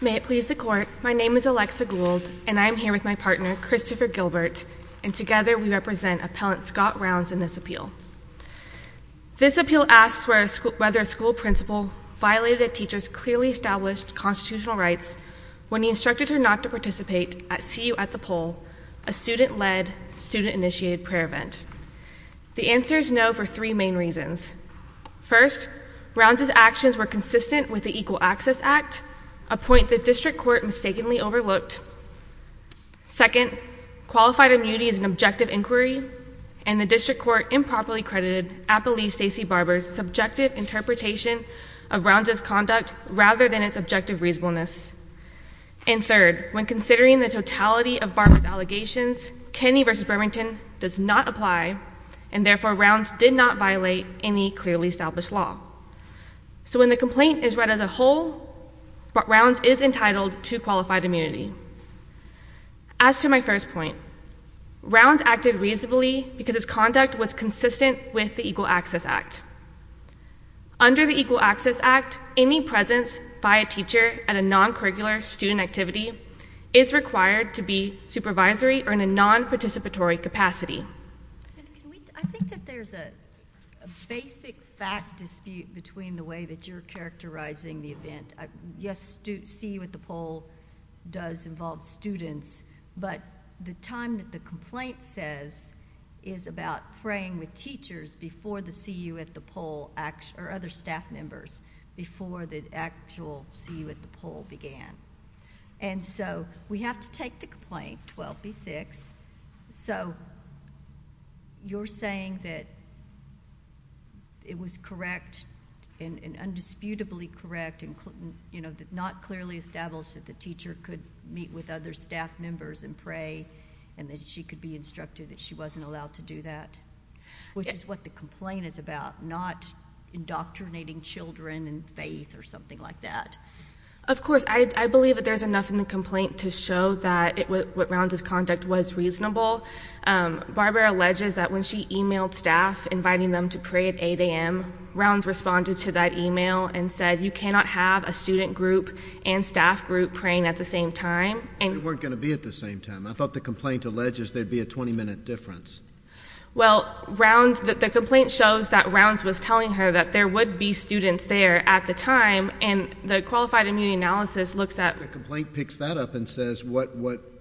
May it please the Court, my name is Alexa Gould, and I am here with my partner, Christopher Gilbert, and together we represent Appellant Scott Rounds in this appeal. This appeal asks whether a school principal violated a teacher's clearly established constitutional rights when he instructed her not to participate at CU at the Pole, a student-led, student-initiated prayer event. The answer is no for three main reasons. First, Rounds' actions were consistent with the Equal Access Act, a point the district court mistakenly overlooked. Second, qualified immunity is an objective inquiry, and the district court improperly credited Appellee Stacey Barber's subjective interpretation of Rounds' conduct rather than its objective reasonableness. And third, when considering the totality of Barber's allegations, Kenney v. Bermington does not apply, and therefore Rounds did not violate any clearly established law. So when the complaint is read as a whole, Rounds is entitled to qualified immunity. As to my first point, Rounds acted reasonably because his conduct was consistent with the Equal Access Act. Under the Equal Access Act, any presence by a teacher at a non-curricular student activity is required to be supervisory or in a non-participatory capacity. I think that there's a basic fact dispute between the way that you're characterizing the event. Yes, CU at the Pole does involve students, but the time that the complaint says is about praying with teachers before the CU at the complaint, 12B6, so you're saying that it was correct and indisputably correct and, you know, not clearly established that the teacher could meet with other staff members and pray and that she could be instructed that she wasn't allowed to do that, which is what the complaint is about, not indoctrinating children in faith or something like that. Of course, I believe that there's enough in the complaint to show that what Rounds's conduct was reasonable. Barbara alleges that when she emailed staff inviting them to pray at 8 a.m., Rounds responded to that email and said you cannot have a student group and staff group praying at the same time. They weren't going to be at the same time. I thought the complaint alleges there'd be a 20-minute difference. Well, Rounds, the complaint shows that Rounds was telling her that there would be students there at the time, and the qualified immunity analysis looks at... The complaint picks that up and says what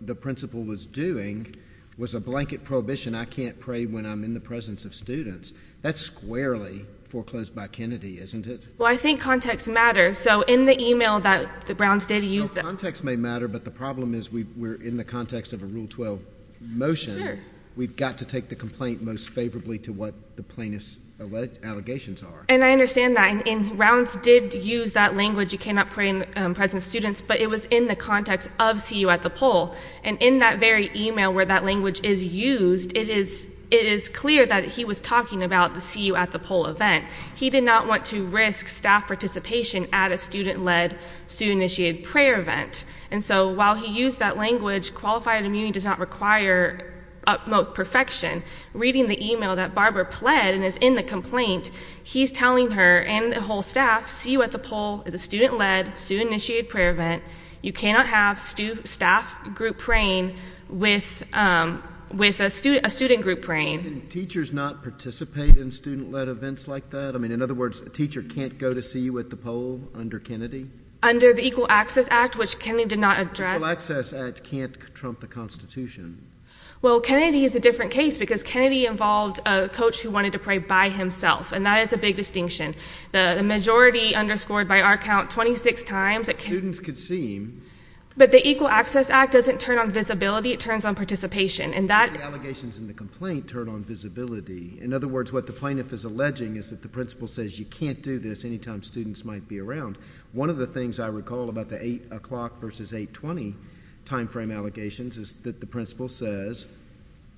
the principal was doing was a blanket prohibition. I can't pray when I'm in the presence of students. That's squarely foreclosed by Kennedy, isn't it? Well, I think context matters, so in the email that the Browns did use... No, context may matter, but the problem is we're in the context of a Rule 12 motion. We've got to take the complaint most favorably to what the plaintiff's allegations are. I understand that. Rounds did use that language, you cannot pray in the presence of students, but it was in the context of CU at the Poll. In that very email where that language is used, it is clear that he was talking about the CU at the Poll event. He did not want to risk staff participation at a student-led, student-initiated prayer event. While he used that language, qualified immunity does not require utmost perfection. Reading the email that Barbara pled and is in the complaint, he's telling her and the whole staff, CU at the Poll is a student-led, student-initiated prayer event. You cannot have staff group praying with a student group praying. Can teachers not participate in student-led events like that? In other words, a teacher can't go to CU at the Poll under Kennedy? Under the Equal Access Act, which Kennedy did not address. The Equal Access Act can't trump the Constitution. Well, Kennedy is a different case because Kennedy involved a coach who wanted to pray by himself, and that is a big distinction. The majority underscored by our count 26 times. But the Equal Access Act doesn't turn on visibility, it turns on participation. In other words, what the plaintiff is alleging is that the principal says you can't do this anytime students might be around. One of the things I recall about the 8 o'clock versus 820 time frame allegations is that the principal says,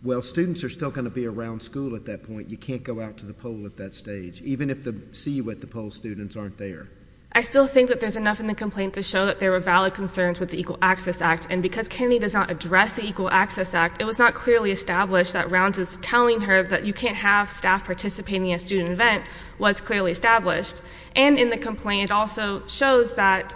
well, students are still going to be around school at that point. You can't go out to the Poll at that stage, even if the CU at the Poll students aren't there. I still think that there's enough in the complaint to show that there were valid concerns with the Equal Access Act, and because Kennedy does not address the Equal Access Act, it was not clearly established that Rounds is telling her that you can't have staff participating in a student event was clearly established. And in the complaint, it also shows that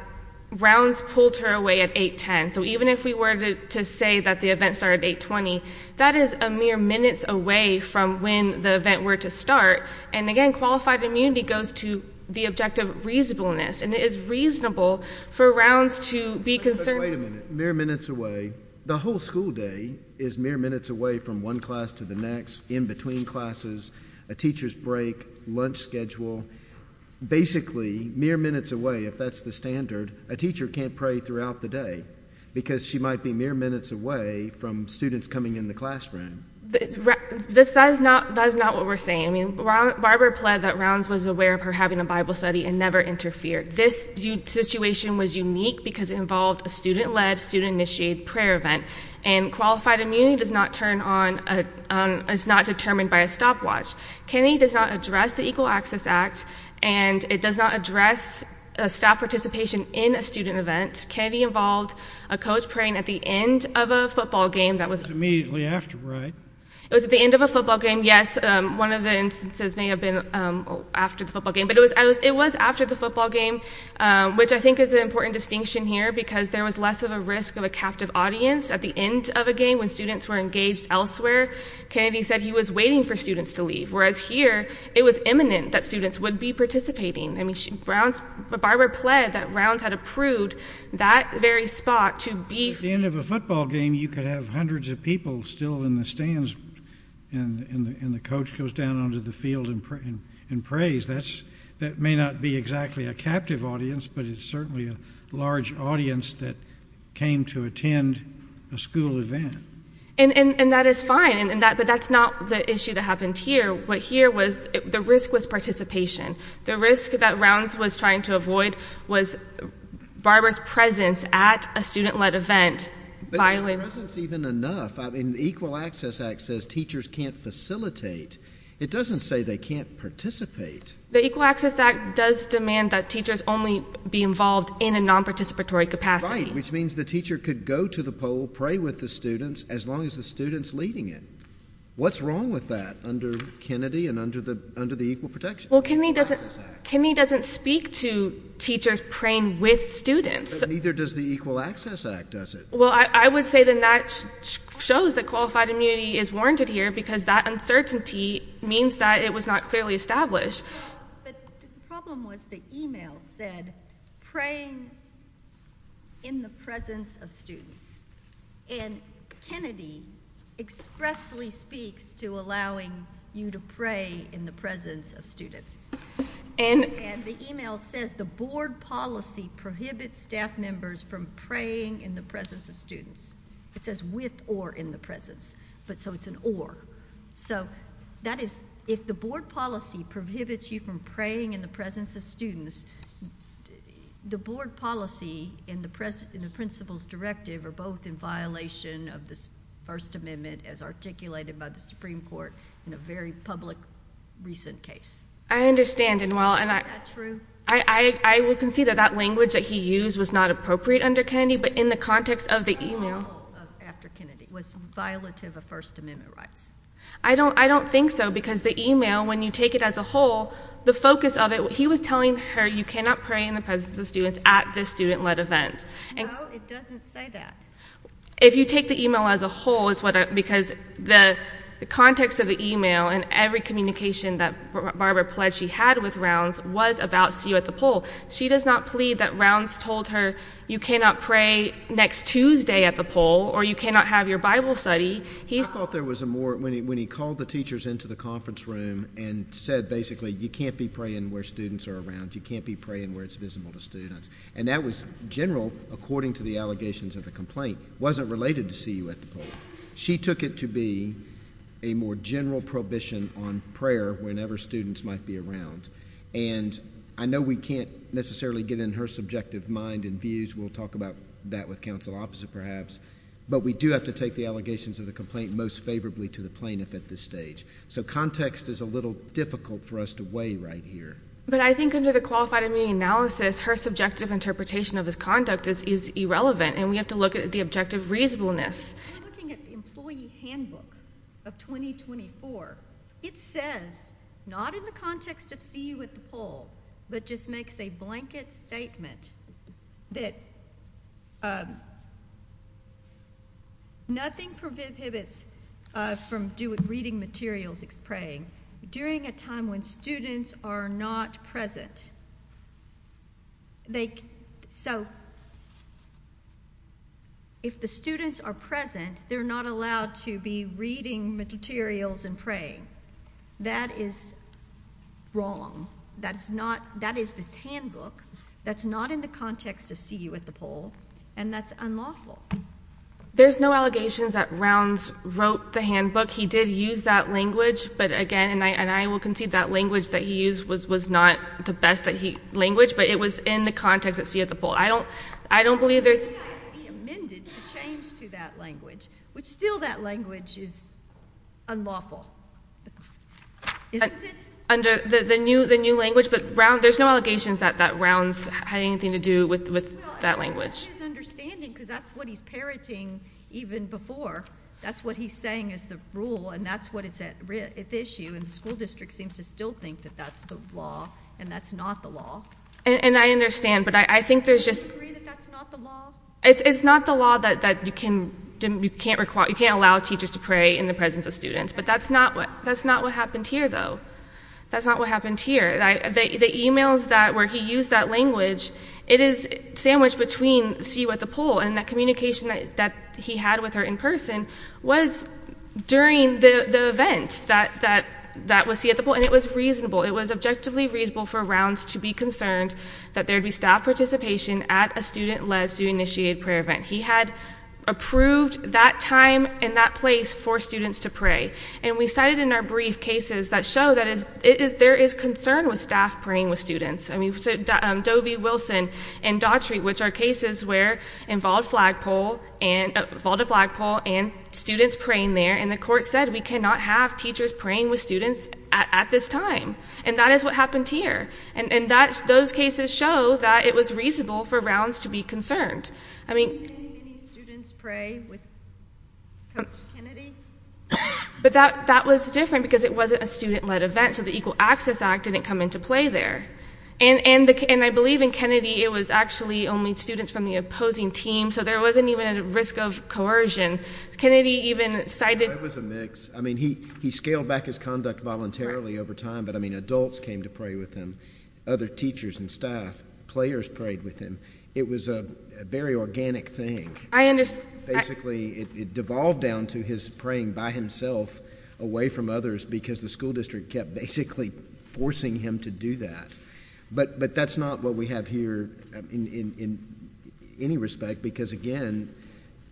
Rounds pulled her away at 810. So even if we were to say that the event started at 820, that is a mere minutes away from when the event were to start. And again, qualified immunity goes to the objective reasonableness, and it is reasonable for Rounds to be concerned. Wait a minute. Mere minutes away? The whole school day is mere minutes away from one class to the next, in between classes, a teacher's break, lunch schedule. Basically, mere minutes away, if that's the standard, a teacher can't pray throughout the day because she might be mere minutes away from students coming in the classroom. That is not what we're saying. I mean, Barbara pled that Rounds was aware of her having a Bible study and never interfered. This situation was unique because it involved a student-led, student-initiated prayer event, and qualified immunity is not determined by a stopwatch. Kennedy does not address the Equal Staff Participation in a student event. Kennedy involved a coach praying at the end of a football game that was... It was immediately after, right? It was at the end of a football game, yes. One of the instances may have been after the football game, but it was after the football game, which I think is an important distinction here because there was less of a risk of a captive audience at the end of a game when students were engaged elsewhere. Kennedy said he was waiting for students to leave, whereas here it was imminent that students would be participating. Rounds... Barbara pled that Rounds had approved that very spot to be... At the end of a football game, you could have hundreds of people still in the stands and the coach goes down onto the field and prays. That may not be exactly a captive audience, but it's certainly a large audience that came to attend a school event. And that is fine, but that's not the issue that happened here. What here was... The risk was participation. The risk that Rounds was trying to avoid was Barbara's presence at a student-led event. But her presence is even enough. I mean, the Equal Access Act says teachers can't facilitate. It doesn't say they can't participate. The Equal Access Act does demand that teachers only be involved in a non-participatory capacity. Right, which means the teacher could go to the pole, pray with the students as long as the student's leading it. What's wrong with that under Kennedy and under the Equal Protection? Well, Kennedy doesn't speak to teachers praying with students. Neither does the Equal Access Act, does it? Well, I would say then that shows that qualified immunity is warranted here because that uncertainty means that it was not clearly established. But the problem was the email said, praying in the presence of students. And Kennedy expressly speaks to allowing you to pray in the presence of students. And the email says, the board policy prohibits staff members from praying in the presence of students. It says with or in the presence. But so it's an or. So that is, if the board policy prohibits you from praying in the presence of students, the board policy and the principal's directive are both in violation of this First Amendment as articulated by the Supreme Court in a very public recent case. I understand, and while I will concede that that language that he used was not appropriate under Kennedy, but in the context of the email. It was not at all after Kennedy. It was violative of First Amendment rights. I don't think so because the email, when you take it as a whole, the focus of it, he was telling her you cannot pray in the presence of students at this student-led event. No, it doesn't say that. If you take the email as a whole, because the context of the email and every communication that Barbara pledged she had with Rounds was about CU at the poll. She does not plead that Rounds told her you cannot pray next Tuesday at the poll or you cannot have your Bible study. He thought there was a more, when he called the teachers into the conference room and said basically you can't be praying where students are around. You can't be praying where it's visible to students. And that was general according to the allegations of the complaint. It wasn't related to CU at the poll. She took it to be a more general prohibition on prayer whenever students might be around. And I know we can't necessarily get in her subjective mind and views. We'll talk about that with counsel opposite perhaps. But we do have to take the allegations of the complaint most favorably to the plaintiff at this stage. So context is a little difficult for us to weigh right here. But I think under the qualified admitting analysis, her subjective interpretation of his conduct is irrelevant and we have to look at the objective reasonableness. We're looking at the employee handbook of 2024. It says, not in the context of CU at the poll, but just makes a blanket statement that nothing prohibits from doing reading materials praying during a time when students are not present. So if the students are present, they're not allowed to be reading materials and praying. That is wrong. That is this handbook. That's not in the context of CU at the poll. And that's unlawful. There's no allegations that Rounds wrote the handbook. He did use that language. But again, and I will concede that language that he used was not the best language, but it was in the context of CU at the poll. I don't believe there's... But the CISD amended to change to that language, which still that language is unlawful. Isn't it? Under the new language, but there's no allegations that Rounds had anything to do with that language. Well, that's his understanding because that's what he's parroting even before. That's what he's saying is the rule and that's what it's at issue. And the school district seems to still think that that's the law and that's not the law. And I understand, but I think there's just... Do you agree that that's not the law? It's not the law that you can't allow teachers to pray in the presence of students. But that's not what happened here though. That's not what happened here. The emails that where he used that language, it is sandwiched between CU at the poll and that communication that he had with her in person was during the event that was CU at the poll. And it was objectively reasonable for Rounds to be concerned that there'd be staff participation at a student-led, student-initiated prayer event. He had approved that time and that place for students to pray. And we cited in our brief cases that show that there is concern with staff praying with students. I mean, Dobie, Wilson, and Daughtry, which are cases where involved a flagpole and students praying there. And the court said we cannot have teachers praying with students at this time. And that is what happened here. And those cases show that it was reasonable for Rounds to be concerned. I mean... Do you think any students pray with Kennedy? But that was different because it wasn't a student-led event. So the Equal Access Act didn't come into play there. And I believe in Kennedy, it was actually only students from the opposing team. So there wasn't even a risk of coercion. Kennedy even cited... It was a mix. I mean, he scaled back his conduct voluntarily over time. But I mean, adults came to pray with him. Other teachers and staff, players prayed with him. It was a very organic thing. Basically, it devolved down to his praying by himself away from others because the school district kept basically forcing him to do that. But that's not what we have here in any respect. Because again,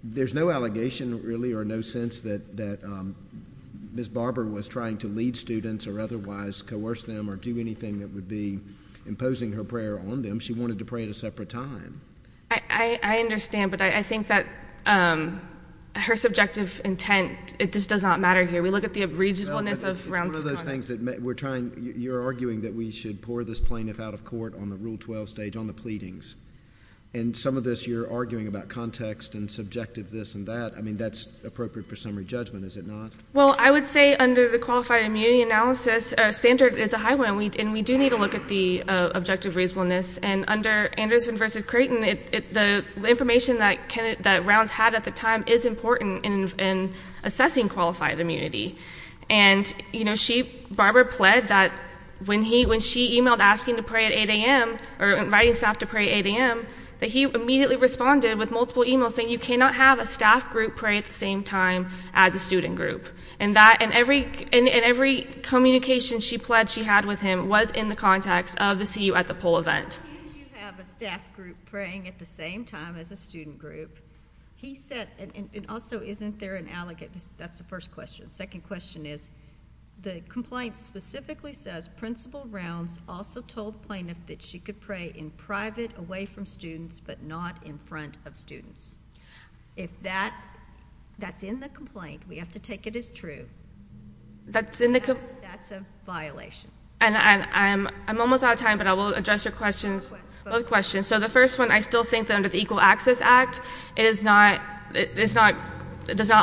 there's no allegation really or no sense that Ms. Barber was trying to lead students or otherwise coerce them or do anything that would be imposing her prayer on them. She wanted to pray at a separate time. I understand. But I think that her subjective intent, it just does not matter here. We look at the reasonableness of Rounds' conduct. It's one of those things that we're trying... You're arguing that we should pour this plaintiff out of court on the Rule 12 stage, on the pleadings. In some of this, you're arguing about context and subjective this and that. I mean, that's appropriate for summary judgment, is it not? Well, I would say under the qualified immunity analysis, standard is a high one. And we do need to look at the objective reasonableness. And under Anderson versus Creighton, the information that Rounds had at the time is important in assessing qualified immunity. And Barber pled that when she emailed asking to pray at 8 a.m. or inviting staff to pray at 8 a.m., that he immediately responded with multiple emails saying, you cannot have a staff group pray at the same time as a student group. And every communication she pled she had with him was in the context of the CU at the Poll event. How can you have a staff group praying at the same time as a student group? He said, and also, isn't there an allegation? That's the first question. Second question is, the complaint specifically says Principal Rounds also told plaintiff that she could pray in private away from students, but not in front of students. If that's in the complaint, we have to take it as true. That's a violation. And I'm almost out of time, but I will address your questions. Both questions. So the first one, I still think that under the Equal Access Act, it does not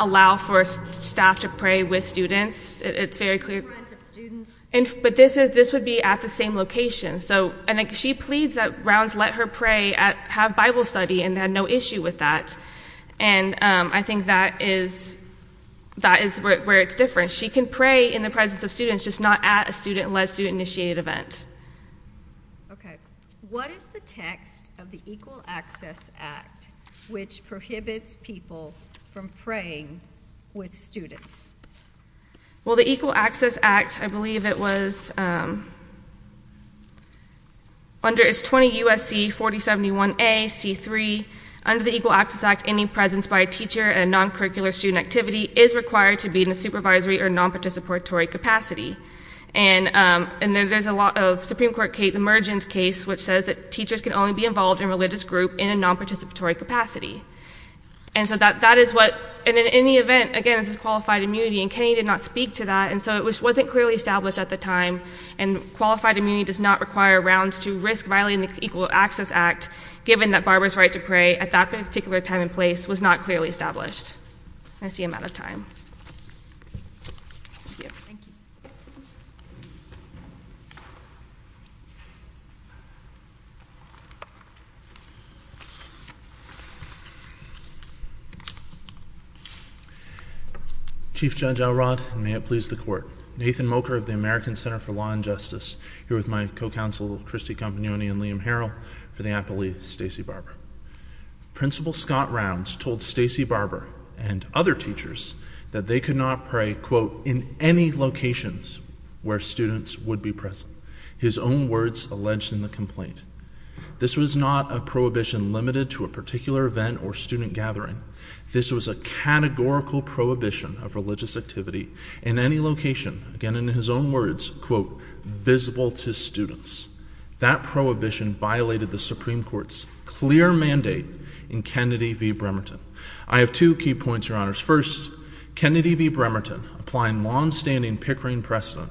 allow for staff to pray with students. It's very clear. In front of students. But this would be at the same location. And she pleads that Rounds let her pray, have Bible study, and had no issue with that. And I think that is where it's different. She can pray in the presence of students, just not at a student-led student-initiated event. Okay. What is the text of Equal Access Act, which prohibits people from praying with students? Well, the Equal Access Act, I believe it was, under 20 U.S.C. 4071A.C.3, under the Equal Access Act, any presence by a teacher in a non-curricular student activity is required to be in a supervisory or non-participatory capacity. And there's a lot of Supreme Court case, the Mergens case, which says that teachers can only be involved in religious group in a non-participatory capacity. And so that is what, and in any event, again, this is qualified immunity, and Kennedy did not speak to that, and so it wasn't clearly established at the time. And qualified immunity does not require Rounds to risk violating the Equal Access Act, given that Barbara's right to pray at that particular time and place was not clearly established. And I see I'm out of time. Chief Judge Elrod, and may it please the Court, Nathan Mocher of the American Center for Law and Justice, here with my co-counsel, Christy Campagnoni and Liam Harrell, for the Appellee, Stacey Barber. Principal Scott Rounds told Stacey Barber and other teachers that they could not pray, quote, in any locations where students would be present, his own words alleged in the complaint. This was not a prohibition limited to a particular event or student gathering. This was a categorical prohibition of religious activity in any location, again, in his own words, quote, visible to students. That prohibition violated the Supreme Court's clear mandate in Kennedy v. Bremerton. I have two key points, Your Honors. First, Kennedy v. Bremerton, applying long-standing Pickering precedent,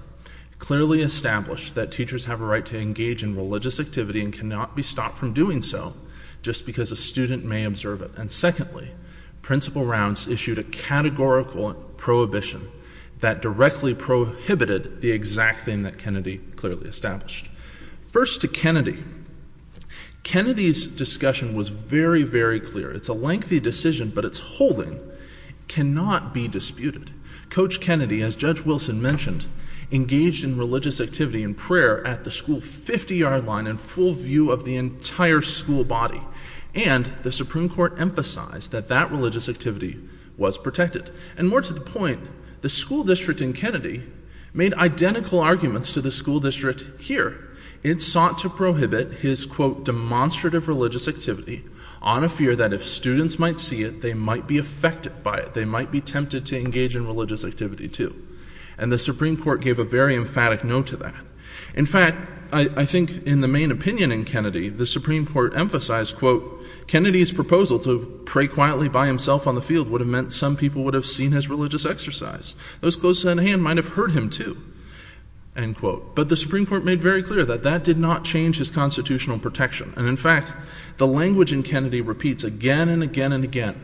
clearly established that teachers have a right to engage in religious activity and cannot be stopped from doing so just because a student may observe it. And secondly, Principal Rounds issued a categorical prohibition that directly prohibited the exact thing that Kennedy clearly established. First to Kennedy. Kennedy's discussion was very, very clear. It's a lengthy decision, but its holding cannot be disputed. Coach Kennedy, as Judge Wilson mentioned, engaged in religious activity and prayer at the school 50-yard line in full view of the entire school body. And the Supreme Court emphasized that that religious activity was protected. And more to the point, the school district in Kennedy made identical arguments to the school district here. It sought to prohibit his, quote, demonstrative religious activity on a fear that if students might see it, they might be affected by it. They might be to engage in religious activity too. And the Supreme Court gave a very emphatic no to that. In fact, I think in the main opinion in Kennedy, the Supreme Court emphasized, quote, Kennedy's proposal to pray quietly by himself on the field would have meant some people would have seen his religious exercise. Those close at hand might have heard him too, end quote. But the Supreme Court made very clear that that did not change his constitutional protection. And in fact, the language in Kennedy repeats again and again and again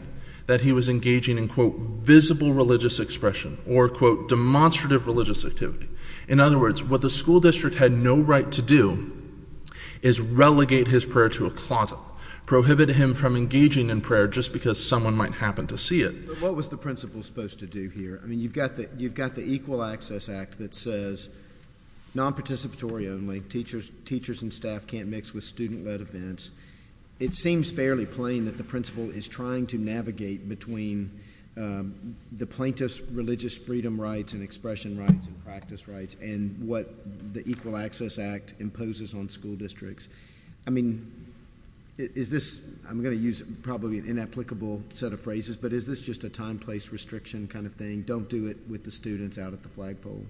that he was engaging in, quote, visible religious expression or, quote, demonstrative religious activity. In other words, what the school district had no right to do is relegate his prayer to a closet, prohibit him from engaging in prayer just because someone might happen to see it. But what was the principal supposed to do here? I mean, you've got the Equal Access Act that says non-participatory only, teachers and staff can't mix with student-led events. It seems fairly plain that the principal is trying to navigate between the plaintiff's religious freedom rights and expression rights and practice rights and what the Equal Access Act imposes on school districts. I mean, is this, I'm going to use probably an inapplicable set of phrases, but is this just a time-place restriction kind of thing? Don't do it with the students out at the flagpole?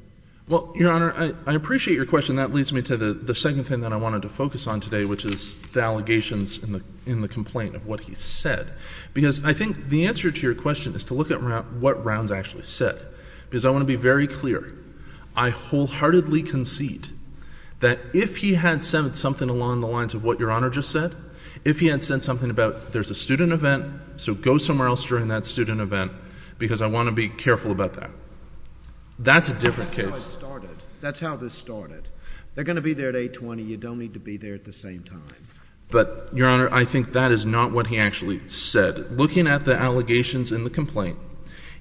Well, Your Honor, I appreciate your question. That leads me to the second thing that I wanted to focus on today, which is the allegations in the complaint of what he said, because I think the answer to your question is to look at what Rounds actually said, because I want to be very clear. I wholeheartedly concede that if he had said something along the lines of what Your Honor just said, if he had said something about there's a student event, so go somewhere else during that student event, because I want to be careful about that. That's a different case. That's how it started. That's how this started. They're going to be there at 820. You don't need to be there at the same time. But, Your Honor, I think that is not what he actually said. Looking at the allegations in the complaint,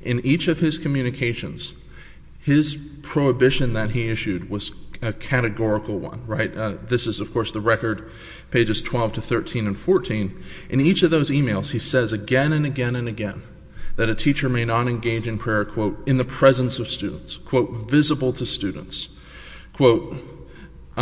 in each of his communications, his prohibition that he issued was a categorical one, right? This is, of course, the record, pages 12 to 13 and 14. In each of those emails, he says again and again and again that a teacher may not engage in prayer, quote, in the presence of students, quote, visible to students, quote.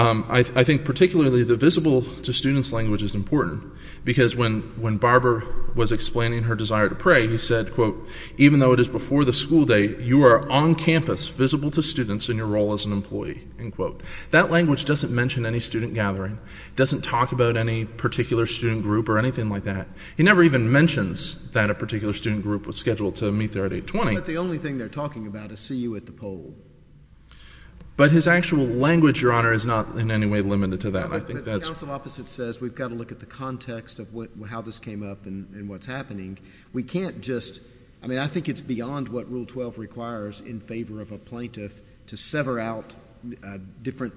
I think particularly the visible to students language is important, because when Barbara was explaining her desire to pray, he said, quote, even though it is before the school day, you are on campus visible to students in your role as an employee, end quote. That language doesn't mention any student gathering, doesn't talk about any particular student group or anything like that. He never even mentions that a particular student group was scheduled to meet there at 820. But the only thing they're talking about is see you at the poll. But his actual language, Your Honor, is not in any way limited to that. The counsel opposite says we've got to look at the context of how this came up and what's happening. We can't just, I mean, I think it's beyond what Rule 12 requires in favor of a plaintiff to sever out different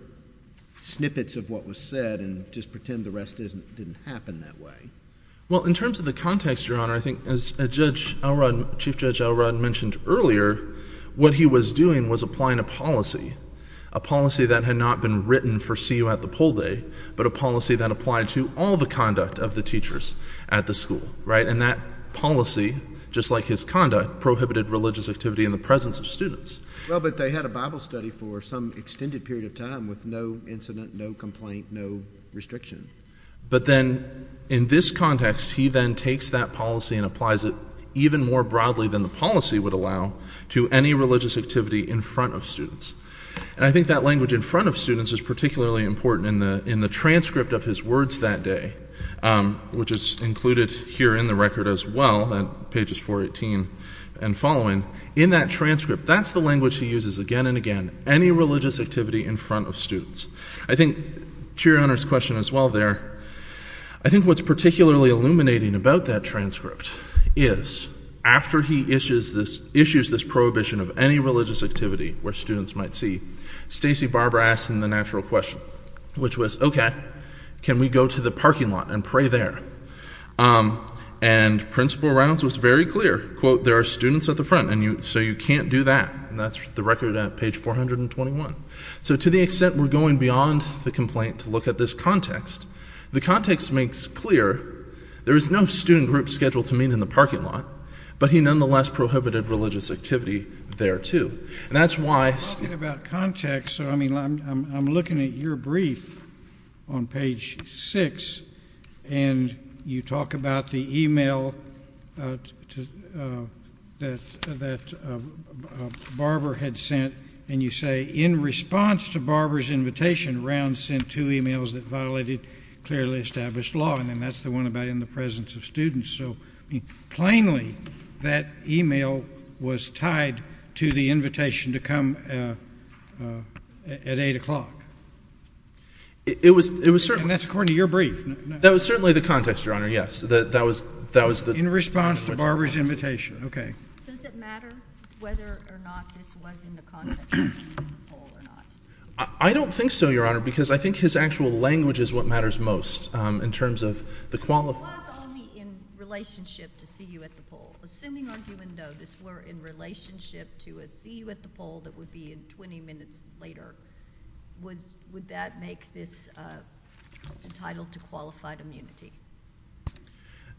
snippets of what was said and just pretend the rest didn't happen that way. Well, in terms of the context, Your Honor, I think as Chief Judge Elrod mentioned earlier, what he was doing was applying a policy, a policy that had not been written for see you at the poll day, but a policy that applied to all the conduct of the teachers at the school, right? And that policy, just like his conduct, prohibited religious activity in the presence of students. Well, but they had a Bible study for some extended period of time with no incident, no complaint, no restriction. But then in this context, he then takes that policy and applies it even more broadly than the policy would allow to any religious activity in front of students. And I think that language in front of students is particularly important in the transcript of his words that day, which is included here in the record as well, pages 418 and following. In that transcript, that's the language he uses again and again, any religious activity in front of students. I think, to Your Honor's question as well there, I think what's particularly illuminating about that transcript is after he issues this prohibition of any religious activity where students might see, Stacey Barber asked him the natural question, which was, okay, can we go to the parking lot and pray there? And Principal Rounds was very clear, quote, there are students at the front and you so you can't do that. And that's the record at page 421. So to the extent we're going beyond the complaint to look at this context, the context makes clear there is no student group scheduled to meet in the parking lot, but he nonetheless prohibited religious activity there too. And that's why I'm talking about context. So I mean, I'm looking at your brief on page six and you talk about the email that Barber had sent and you say, in response to Barber's invitation, Rounds sent two emails that violated clearly established law. And then that's the one about in the presence of students. So plainly, that email was tied to the invitation to come at eight o'clock. And that's according to your brief. That was certainly the context, Your Honor, yes. In response to Barber's invitation, okay. Does it matter whether or not this was in the context of the poll or not? I don't think so, Your Honor, because I think his actual language is what matters most in terms of the quality. It was only in relationship to see you at the poll. Assuming on Hue and Doe, this were in relationship to a see you at the poll that would be in 20 minutes later, would that make this entitled to qualified immunity?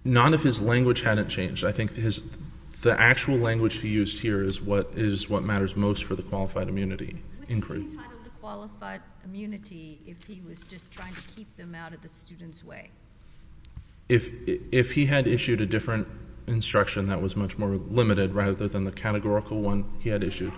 Not if his language hadn't changed. I think the actual language he used here is what matters most for the qualified immunity. Would he be entitled to qualified immunity if he was just trying to keep them out of the way? If he had issued a different instruction that was much more limited rather than the categorical one he had issued.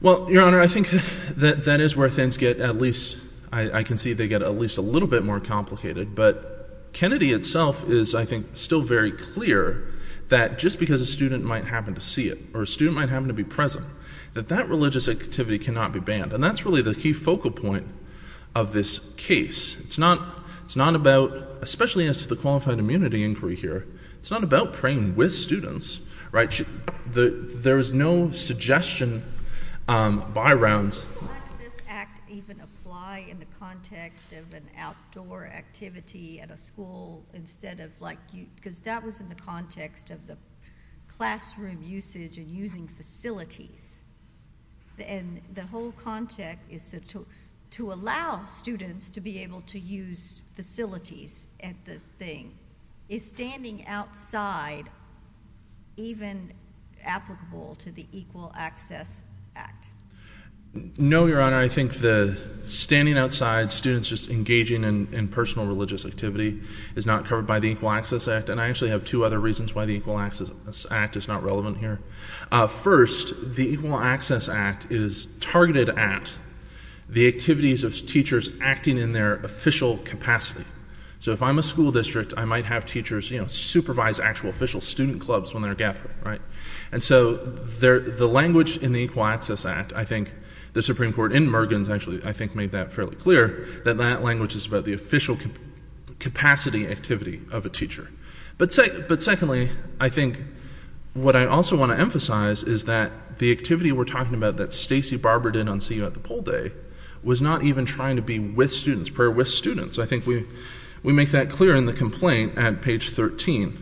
Well, Your Honor, I think that that is where things get at least, I can see they get at least a little bit more complicated. But Kennedy itself is, I think, still very clear that just because a student might happen to see it or a student might happen to be present, that that religious activity cannot be banned. And that's really the key focal point of this case. It's not about, especially as to the qualified immunity inquiry here, it's not about praying with students, right? There is no suggestion by rounds. How does this act even apply in the context of an outdoor activity at a school instead of like, because that was in the context of the classroom usage and using facilities. And the whole context is to allow students to be able to use facilities at the thing. Is standing outside even applicable to the Equal Access Act? No, Your Honor. I think the standing outside students just engaging in personal religious activity is not covered by the Equal Access Act. And I actually have two other reasons why the Equal Access Act is targeted at the activities of teachers acting in their official capacity. So if I'm a school district, I might have teachers supervise actual official student clubs when they're gathering, right? And so the language in the Equal Access Act, I think the Supreme Court in Mergens actually, I think made that fairly clear that that language is about the official capacity activity of a teacher. But secondly, I think what I also want to emphasize is that the activity we're talking about that Stacey Barber did on CU at the Poll Day was not even trying to be with students, prayer with students. I think we make that clear in the complaint at page 13,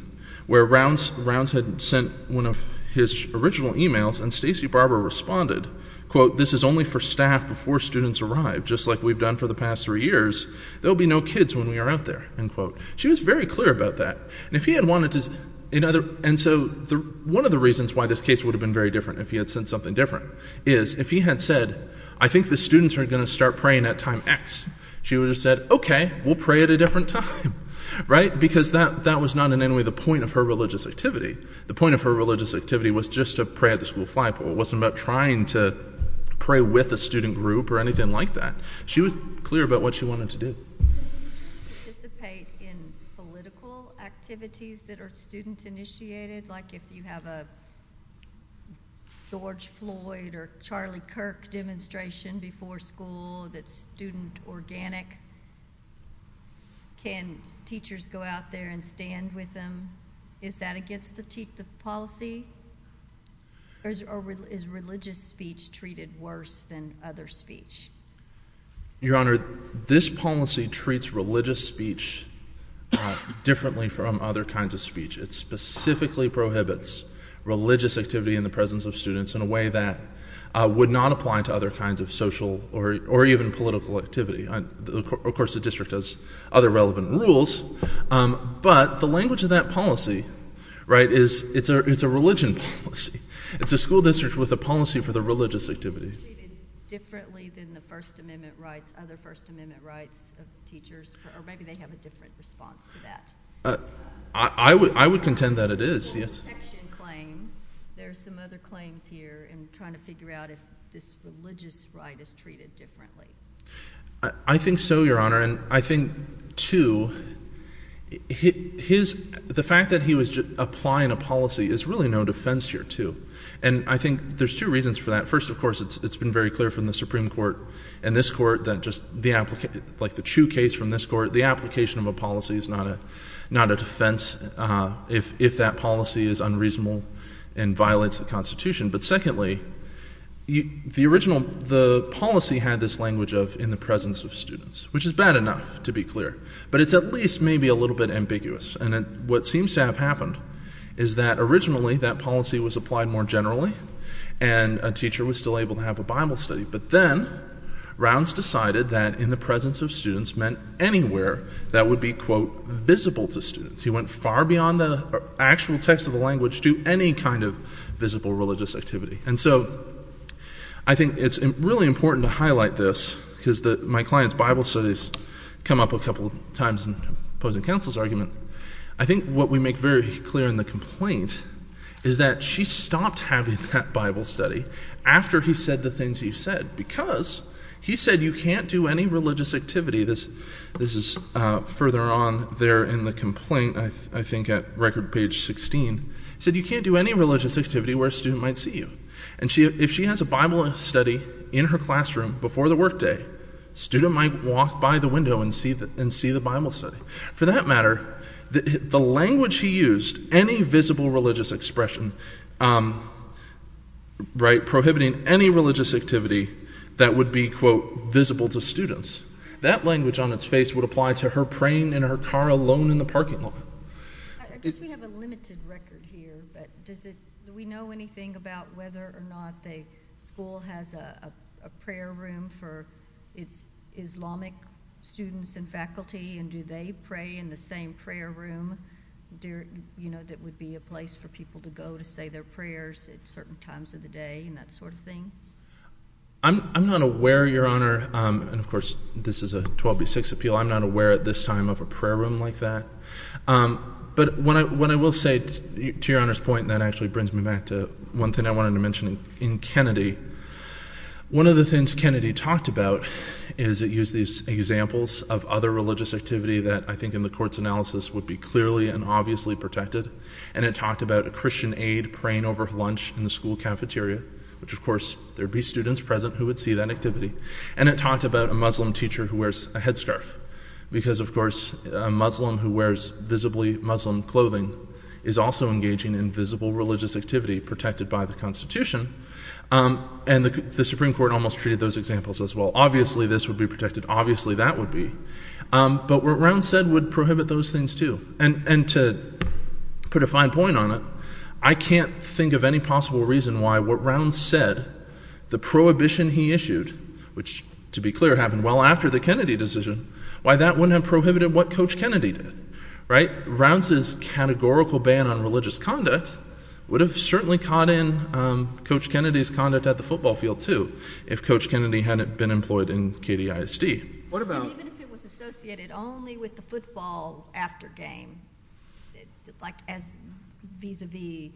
where Rounds had sent one of his original emails and Stacey Barber responded, quote, this is only for staff before students arrive, just like we've done for the past three years. There'll be no kids when we are out there, end quote. She was very clear about that. And if is, if he had said, I think the students are going to start praying at time X, she would have said, okay, we'll pray at a different time, right? Because that that was not in any way the point of her religious activity. The point of her religious activity was just to pray at the school fly poll. It wasn't about trying to pray with a student group or anything like that. She was clear about what she wanted to do. Participate in political activities that are student initiated, like if you have a George Floyd or Charlie Kirk demonstration before school that's student organic. Can teachers go out there and stand with them? Is that against the policy? Or is religious speech treated worse than other speech? Your Honor, this policy treats religious speech differently from other kinds of speech. It specifically prohibits religious activity in the presence of students in a way that would not apply to other kinds of social or or even political activity. Of course, the district has other relevant rules, but the language of that policy, right, is it's a it's a religion. It's a school district with a policy for the religious activity. Treated differently than the First Amendment rights, other First Amendment rights of teachers, or maybe they have a different response to that. I would contend that it is, yes. There are some other claims here in trying to figure out if this religious right is treated differently. I think so, Your Honor, and I think, too, his the fact that he was applying a policy is really no defense here, too, and I think there's two reasons for that. First, of course, it's been very clear from the Supreme Court and this Court that just the application, like the Chu case from this Court, the application of a policy is not a not a defense if if that policy is unreasonable and violates the Constitution. But secondly, the original the policy had this language of in the presence of students, which is bad enough, to be clear, but it's at least maybe a little bit ambiguous. And what seems to have happened is that originally that policy was applied more generally, and a teacher was still able to have a Bible study, but then Rounds decided that in the presence of students meant anywhere that would be, quote, visible to students. He went far beyond the actual text of the language to any kind of visible religious activity. And so I think it's really important to highlight this because my client's Bible studies come up a couple of times in counsel's argument. I think what we make very clear in the complaint is that she stopped having that Bible study after he said the things he said, because he said you can't do any religious activity. This is further on there in the complaint, I think at record page 16, said you can't do any religious activity where a student might see you. And if she has a Bible study in her classroom before the workday, student might walk by the window and see the Bible study. For that matter, the language he used, any visible religious expression, right, prohibiting any religious activity that would be, quote, visible to students, that language on its face would apply to her praying in her car alone in the parking lot. I guess we have a limited record here, but do we know anything about whether or not the school has a prayer room for its Islamic students and faculty, and do they pray in the same prayer room that would be a place for people to go to say their prayers at certain times of the day and that sort of thing? I'm not aware, Your Honor, and of course this is a 12-6 appeal, I'm not aware at this time of a To Your Honor's point, that actually brings me back to one thing I wanted to mention in Kennedy. One of the things Kennedy talked about is it used these examples of other religious activity that I think in the court's analysis would be clearly and obviously protected, and it talked about a Christian aide praying over lunch in the school cafeteria, which of course there'd be students present who would see that activity, and it talked about a Muslim teacher who wears a headscarf, because of course a Muslim who wears visibly Muslim clothing is also engaging in visible religious activity protected by the Constitution, and the Supreme Court almost treated those examples as well. Obviously this would be protected, obviously that would be, but what Round said would prohibit those things too, and to put a fine point on it, I can't think of any possible reason why what Round said, the prohibition he issued, which to be clear happened well after the Kennedy decision, why that wouldn't have prohibited what Coach Kennedy did, right? Round's categorical ban on religious conduct would have certainly caught in Coach Kennedy's conduct at the football field too, if Coach Kennedy hadn't been employed in KDISD. What about? Even if it was associated only with the football after game, like as vis-a-vis,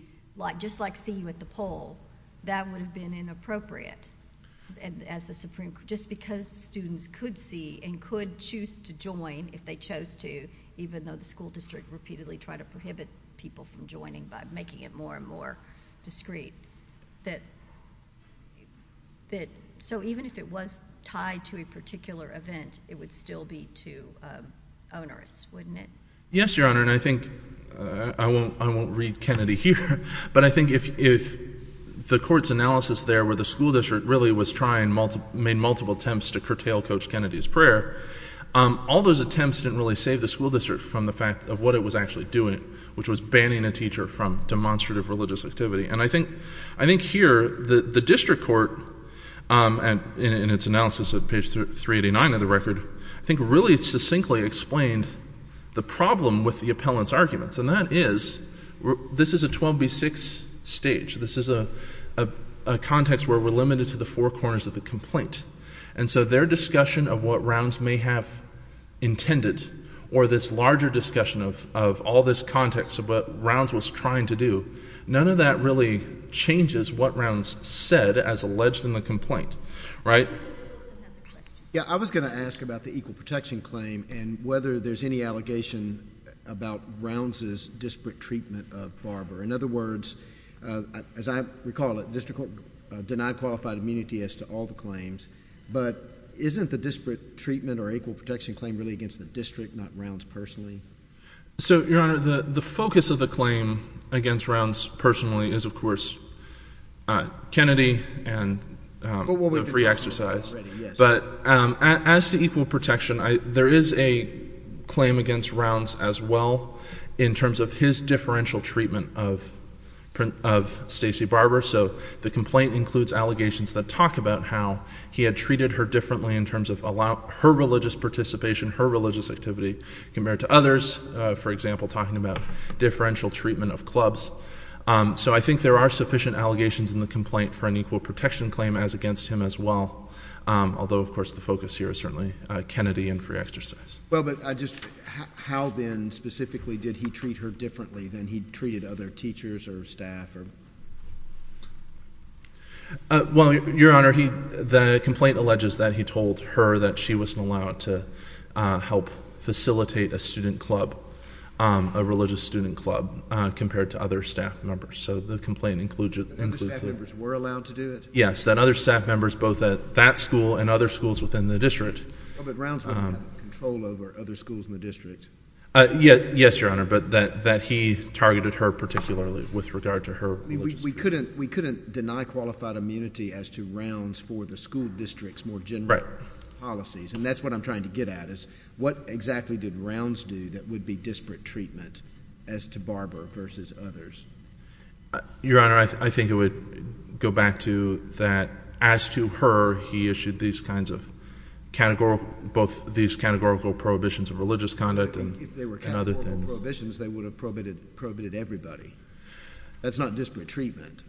just like seeing you at the and could choose to join if they chose to, even though the school district repeatedly tried to prohibit people from joining by making it more and more discreet, that so even if it was tied to a particular event, it would still be too onerous, wouldn't it? Yes, Your Honor, and I think, I won't read Kennedy here, but I think if the court's analysis there where the school district really was trying multiple, made multiple attempts to curtail Coach Kennedy's prayer, all those attempts didn't really save the school district from the fact of what it was actually doing, which was banning a teacher from demonstrative religious activity, and I think here the district court, in its analysis at page 389 of the record, I think really succinctly explained the problem with the appellant's arguments, and that is, this is a 12b6 stage. This is a context where we're limited to the four corners of the complaint, and so their discussion of what Rounds may have intended, or this larger discussion of all this context of what Rounds was trying to do, none of that really changes what Rounds said as alleged in the complaint, right? Yeah, I was going to ask about the equal protection claim and whether there's any allegation about Rounds' disparate treatment of Barber. In other words, as I recall it, the district court denied qualified immunity as to all the claims, but isn't the disparate treatment or equal protection claim really against the district, not Rounds personally? So, your honor, the focus of the claim against Rounds personally is, of course, Kennedy and free exercise, but as to equal protection, there is a claim against Rounds as well, in terms of his differential treatment of Stacey Barber. So, the complaint includes allegations that talk about how he had treated her differently in terms of her religious participation, her religious activity, compared to others, for example, talking about differential treatment of clubs. So, I think there are sufficient allegations in the complaint for an equal protection claim as against him as well, although, of course, the focus here is certainly Kennedy and free exercise. Well, but just how then, specifically, did he treat her differently than he treated other teachers or staff? Well, your honor, the complaint alleges that he told her that she wasn't allowed to help facilitate a student club, a religious student club, compared to other staff members. So, the complaint includes that. Other staff members were allowed to do it? Yes, that other staff members, both at that school and other schools within the district. But Rounds had control over other schools in the district? Yes, your honor, but that he targeted her particularly with regard to her religious. We couldn't deny qualified immunity as to Rounds for the school district's more general policies. And that's what I'm trying to get at, is what exactly did Rounds do that would be disparate treatment as to Barber versus others? Your honor, I think it would go back to that, as to her, he issued these kinds of categorical, both these categorical prohibitions of religious conduct and other things. If they were categorical prohibitions, they would have prohibited everybody. That's not disparate treatment.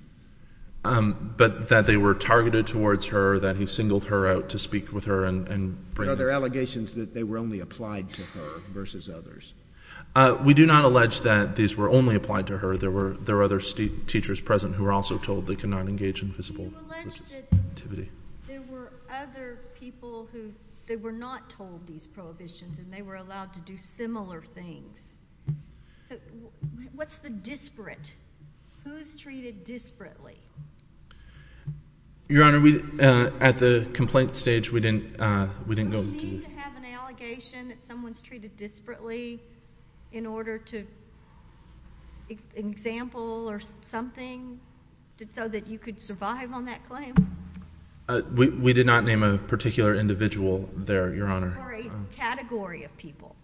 But that they were targeted towards her, that he singled her out to speak with her. And are there allegations that they were only applied to her versus others? We do not allege that these were only applied to her. There were other teachers present who were also told they could not engage in physical activity. There were other people who they were not told these prohibitions, and they were allowed to do similar things. So what's the disparate? Who's treated disparately? Your honor, at the complaint stage, we didn't go into. Do we need to have an allegation that someone's treated disparately in order to, an example or something, so that you could survive on that claim? We did not name a particular individual there, your honor. Or a category of people.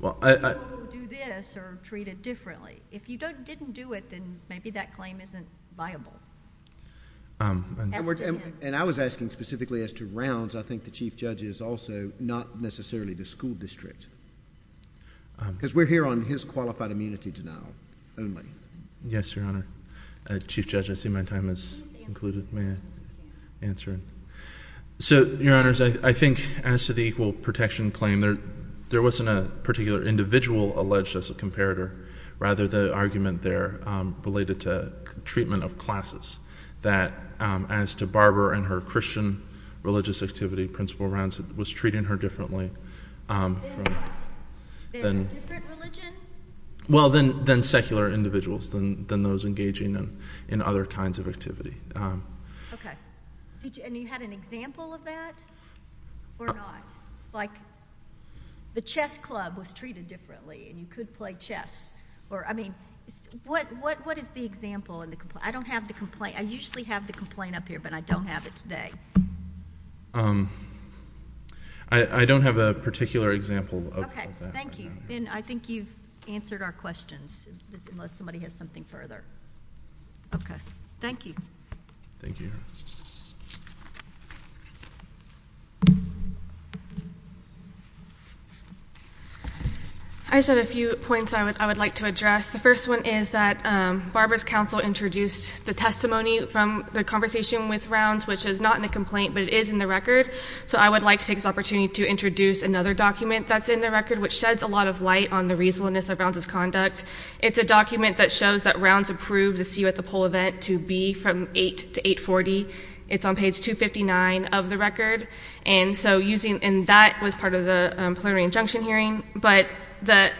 Well, I... People who do this are treated differently. If you didn't do it, then maybe that claim isn't viable. And I was asking specifically as to Rounds. I think the chief judge is also not necessarily the school district. Because we're here on his qualified immunity denial only. Yes, your honor. Chief judge, I see my time has concluded. May I answer? So, your honors, I think as to the equal protection claim, there wasn't a particular individual alleged as a comparator. Rather, the argument there related to treatment of classes. That as to Barber and her Christian religious activity, Principal Rounds was treating her differently from... Than what? Than a different religion? Well, than secular individuals. Than those engaging in other kinds of activity. Okay. And you had an example of that? Or not? Like, the chess club was treated differently, and you could play chess. Or, I mean, what is the example in the complaint? I don't have the complaint up here, but I don't have it today. I don't have a particular example of that. Okay. Thank you. And I think you've answered our questions, unless somebody has something further. Okay. Thank you. Thank you, your honor. I just had a few points I would like to address. The first one is that Barber's counsel introduced the testimony from the conversation with Rounds, which is not in the complaint, but it is in the record. So, I would like to take this opportunity to introduce another document that's in the record, which sheds a lot of light on the reasonableness of Rounds' conduct. It's a document that shows that Rounds approved the CU at the Poll event to be from 8 to 840. It's on page 259 of the record. And so, using... and that was part of the preliminary injunction hearing, but the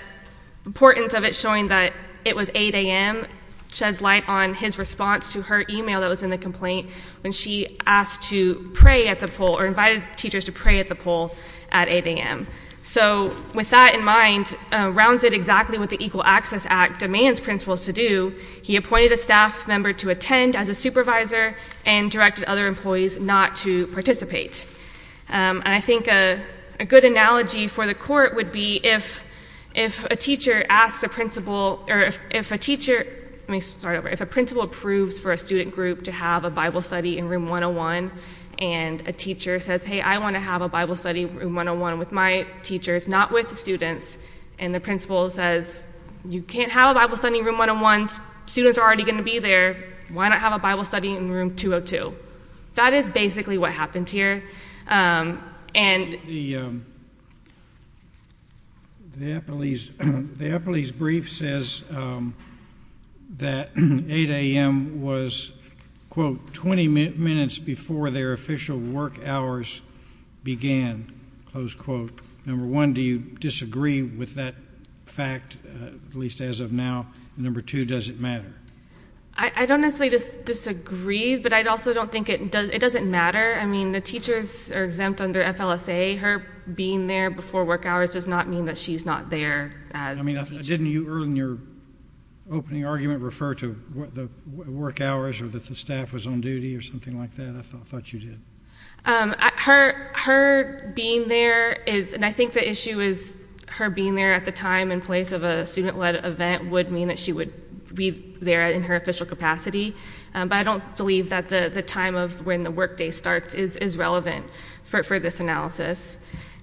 importance of it showing that it was 8 a.m. sheds light on his response to her email that was in the complaint when she asked to pray at the Poll, or invited teachers to pray at the Poll at 8 a.m. So, with that in mind, Rounds did exactly what the Equal Access Act demands principals to do. He appointed a staff member to attend as a supervisor and directed other employees not to participate. And I think a good analogy for the Court would be if a teacher asks a principal... or if a teacher... let me start over. If a principal approves for a student group to have a Bible study in Room 101 and a teacher says, hey, I want to have a Bible study in Room 101 with my teachers, not with the students, and the principal says, you can't have a Bible study in Room 101. Students are already going to be there. Why not have a Bible study in Room 202? That is basically what happened here. The Eppley's brief says that 8 a.m. was, quote, 20 minutes before their official work hours began, close quote. Number one, do you disagree with that fact, at least as of now? And number two, does it matter? I don't necessarily disagree, but I also don't think it doesn't matter. I mean, the teachers are exempt under FLSA. Her being there before work hours does not mean that she's not there as a teacher. I mean, didn't you earlier in your opening argument refer to the work hours or that the staff was on duty or something like that? I thought you did. Her being there is, and I think the issue is her being there at the time and place of a student-led event would mean that she would be there in her official capacity, but I don't believe that the time of when the workday starts is relevant for this analysis.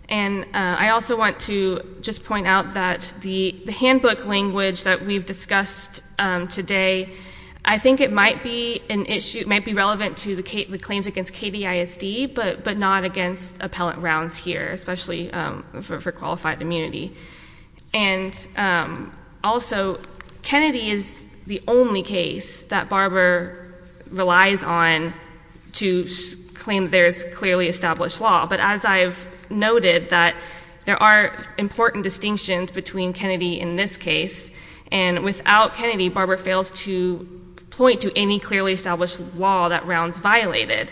And I also want to just point out that the handbook language that we've discussed today, I think it might be relevant to the claims against KDISD, but not against appellate rounds here, especially for qualified immunity. And also, Kennedy is the only case that Barber relies on to claim there's clearly established law, but as I've noted that there are important distinctions between Kennedy in this case, and without Kennedy, Barber fails to point to any clearly established law that rounds violated.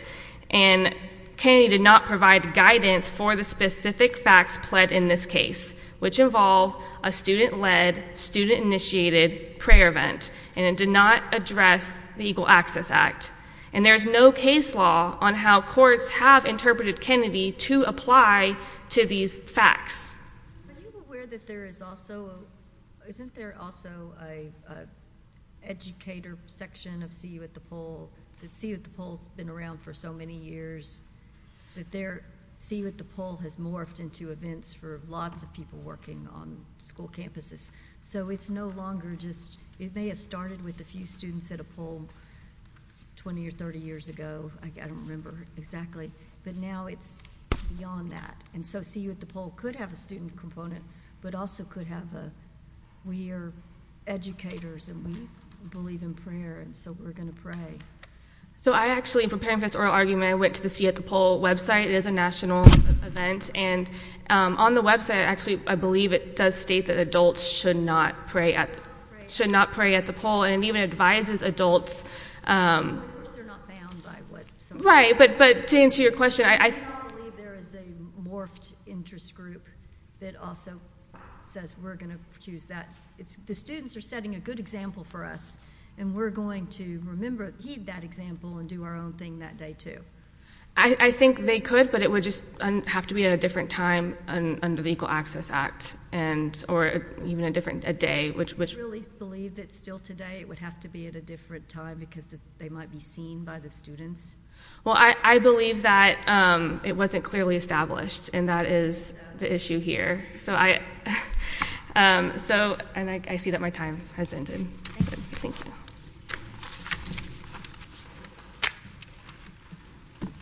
And Kennedy did not provide guidance for the specific facts pled in this case, which involve a student-led, student-initiated prayer event, and it did not address the Equal Access Act. And there's no case law on how courts have interpreted Kennedy to apply to these facts. Are you aware that there is also, isn't there also a educator section of See You at the Poll, that See You at the Poll's been around for so many years, that their See You at the Poll has morphed into events for lots of people working on school campuses, so it's no longer just, it may have started with a few students at a poll 20 or 30 years ago, I don't remember exactly, but now it's beyond that. And so See You at the Poll could have a student component, but also could have a, we're educators and we believe in prayer, and so we're going to pray. So I actually, for Parenthood's oral argument, I went to the See You at the Poll website. It is a national event, and on the website, actually, I believe it does state that adults should not pray at, should not pray at the poll, and it even advises adults. Right, but, but to answer your question, I, I, I don't believe there is a morphed interest group that also says we're going to choose that. It's, the students are setting a good example for us, and we're going to remember, heed that example, and do our own thing that day, too. I, I think they could, but it would just have to be at a different time under the Equal Access Act, and, or even a different, a day, which, which, I really believe that still today, it would have to be at a different time, because they might be seen by the students. Well, I, I believe that it wasn't clearly established, and that is the issue here. So I, so, and I see that my time has ended. Thank you.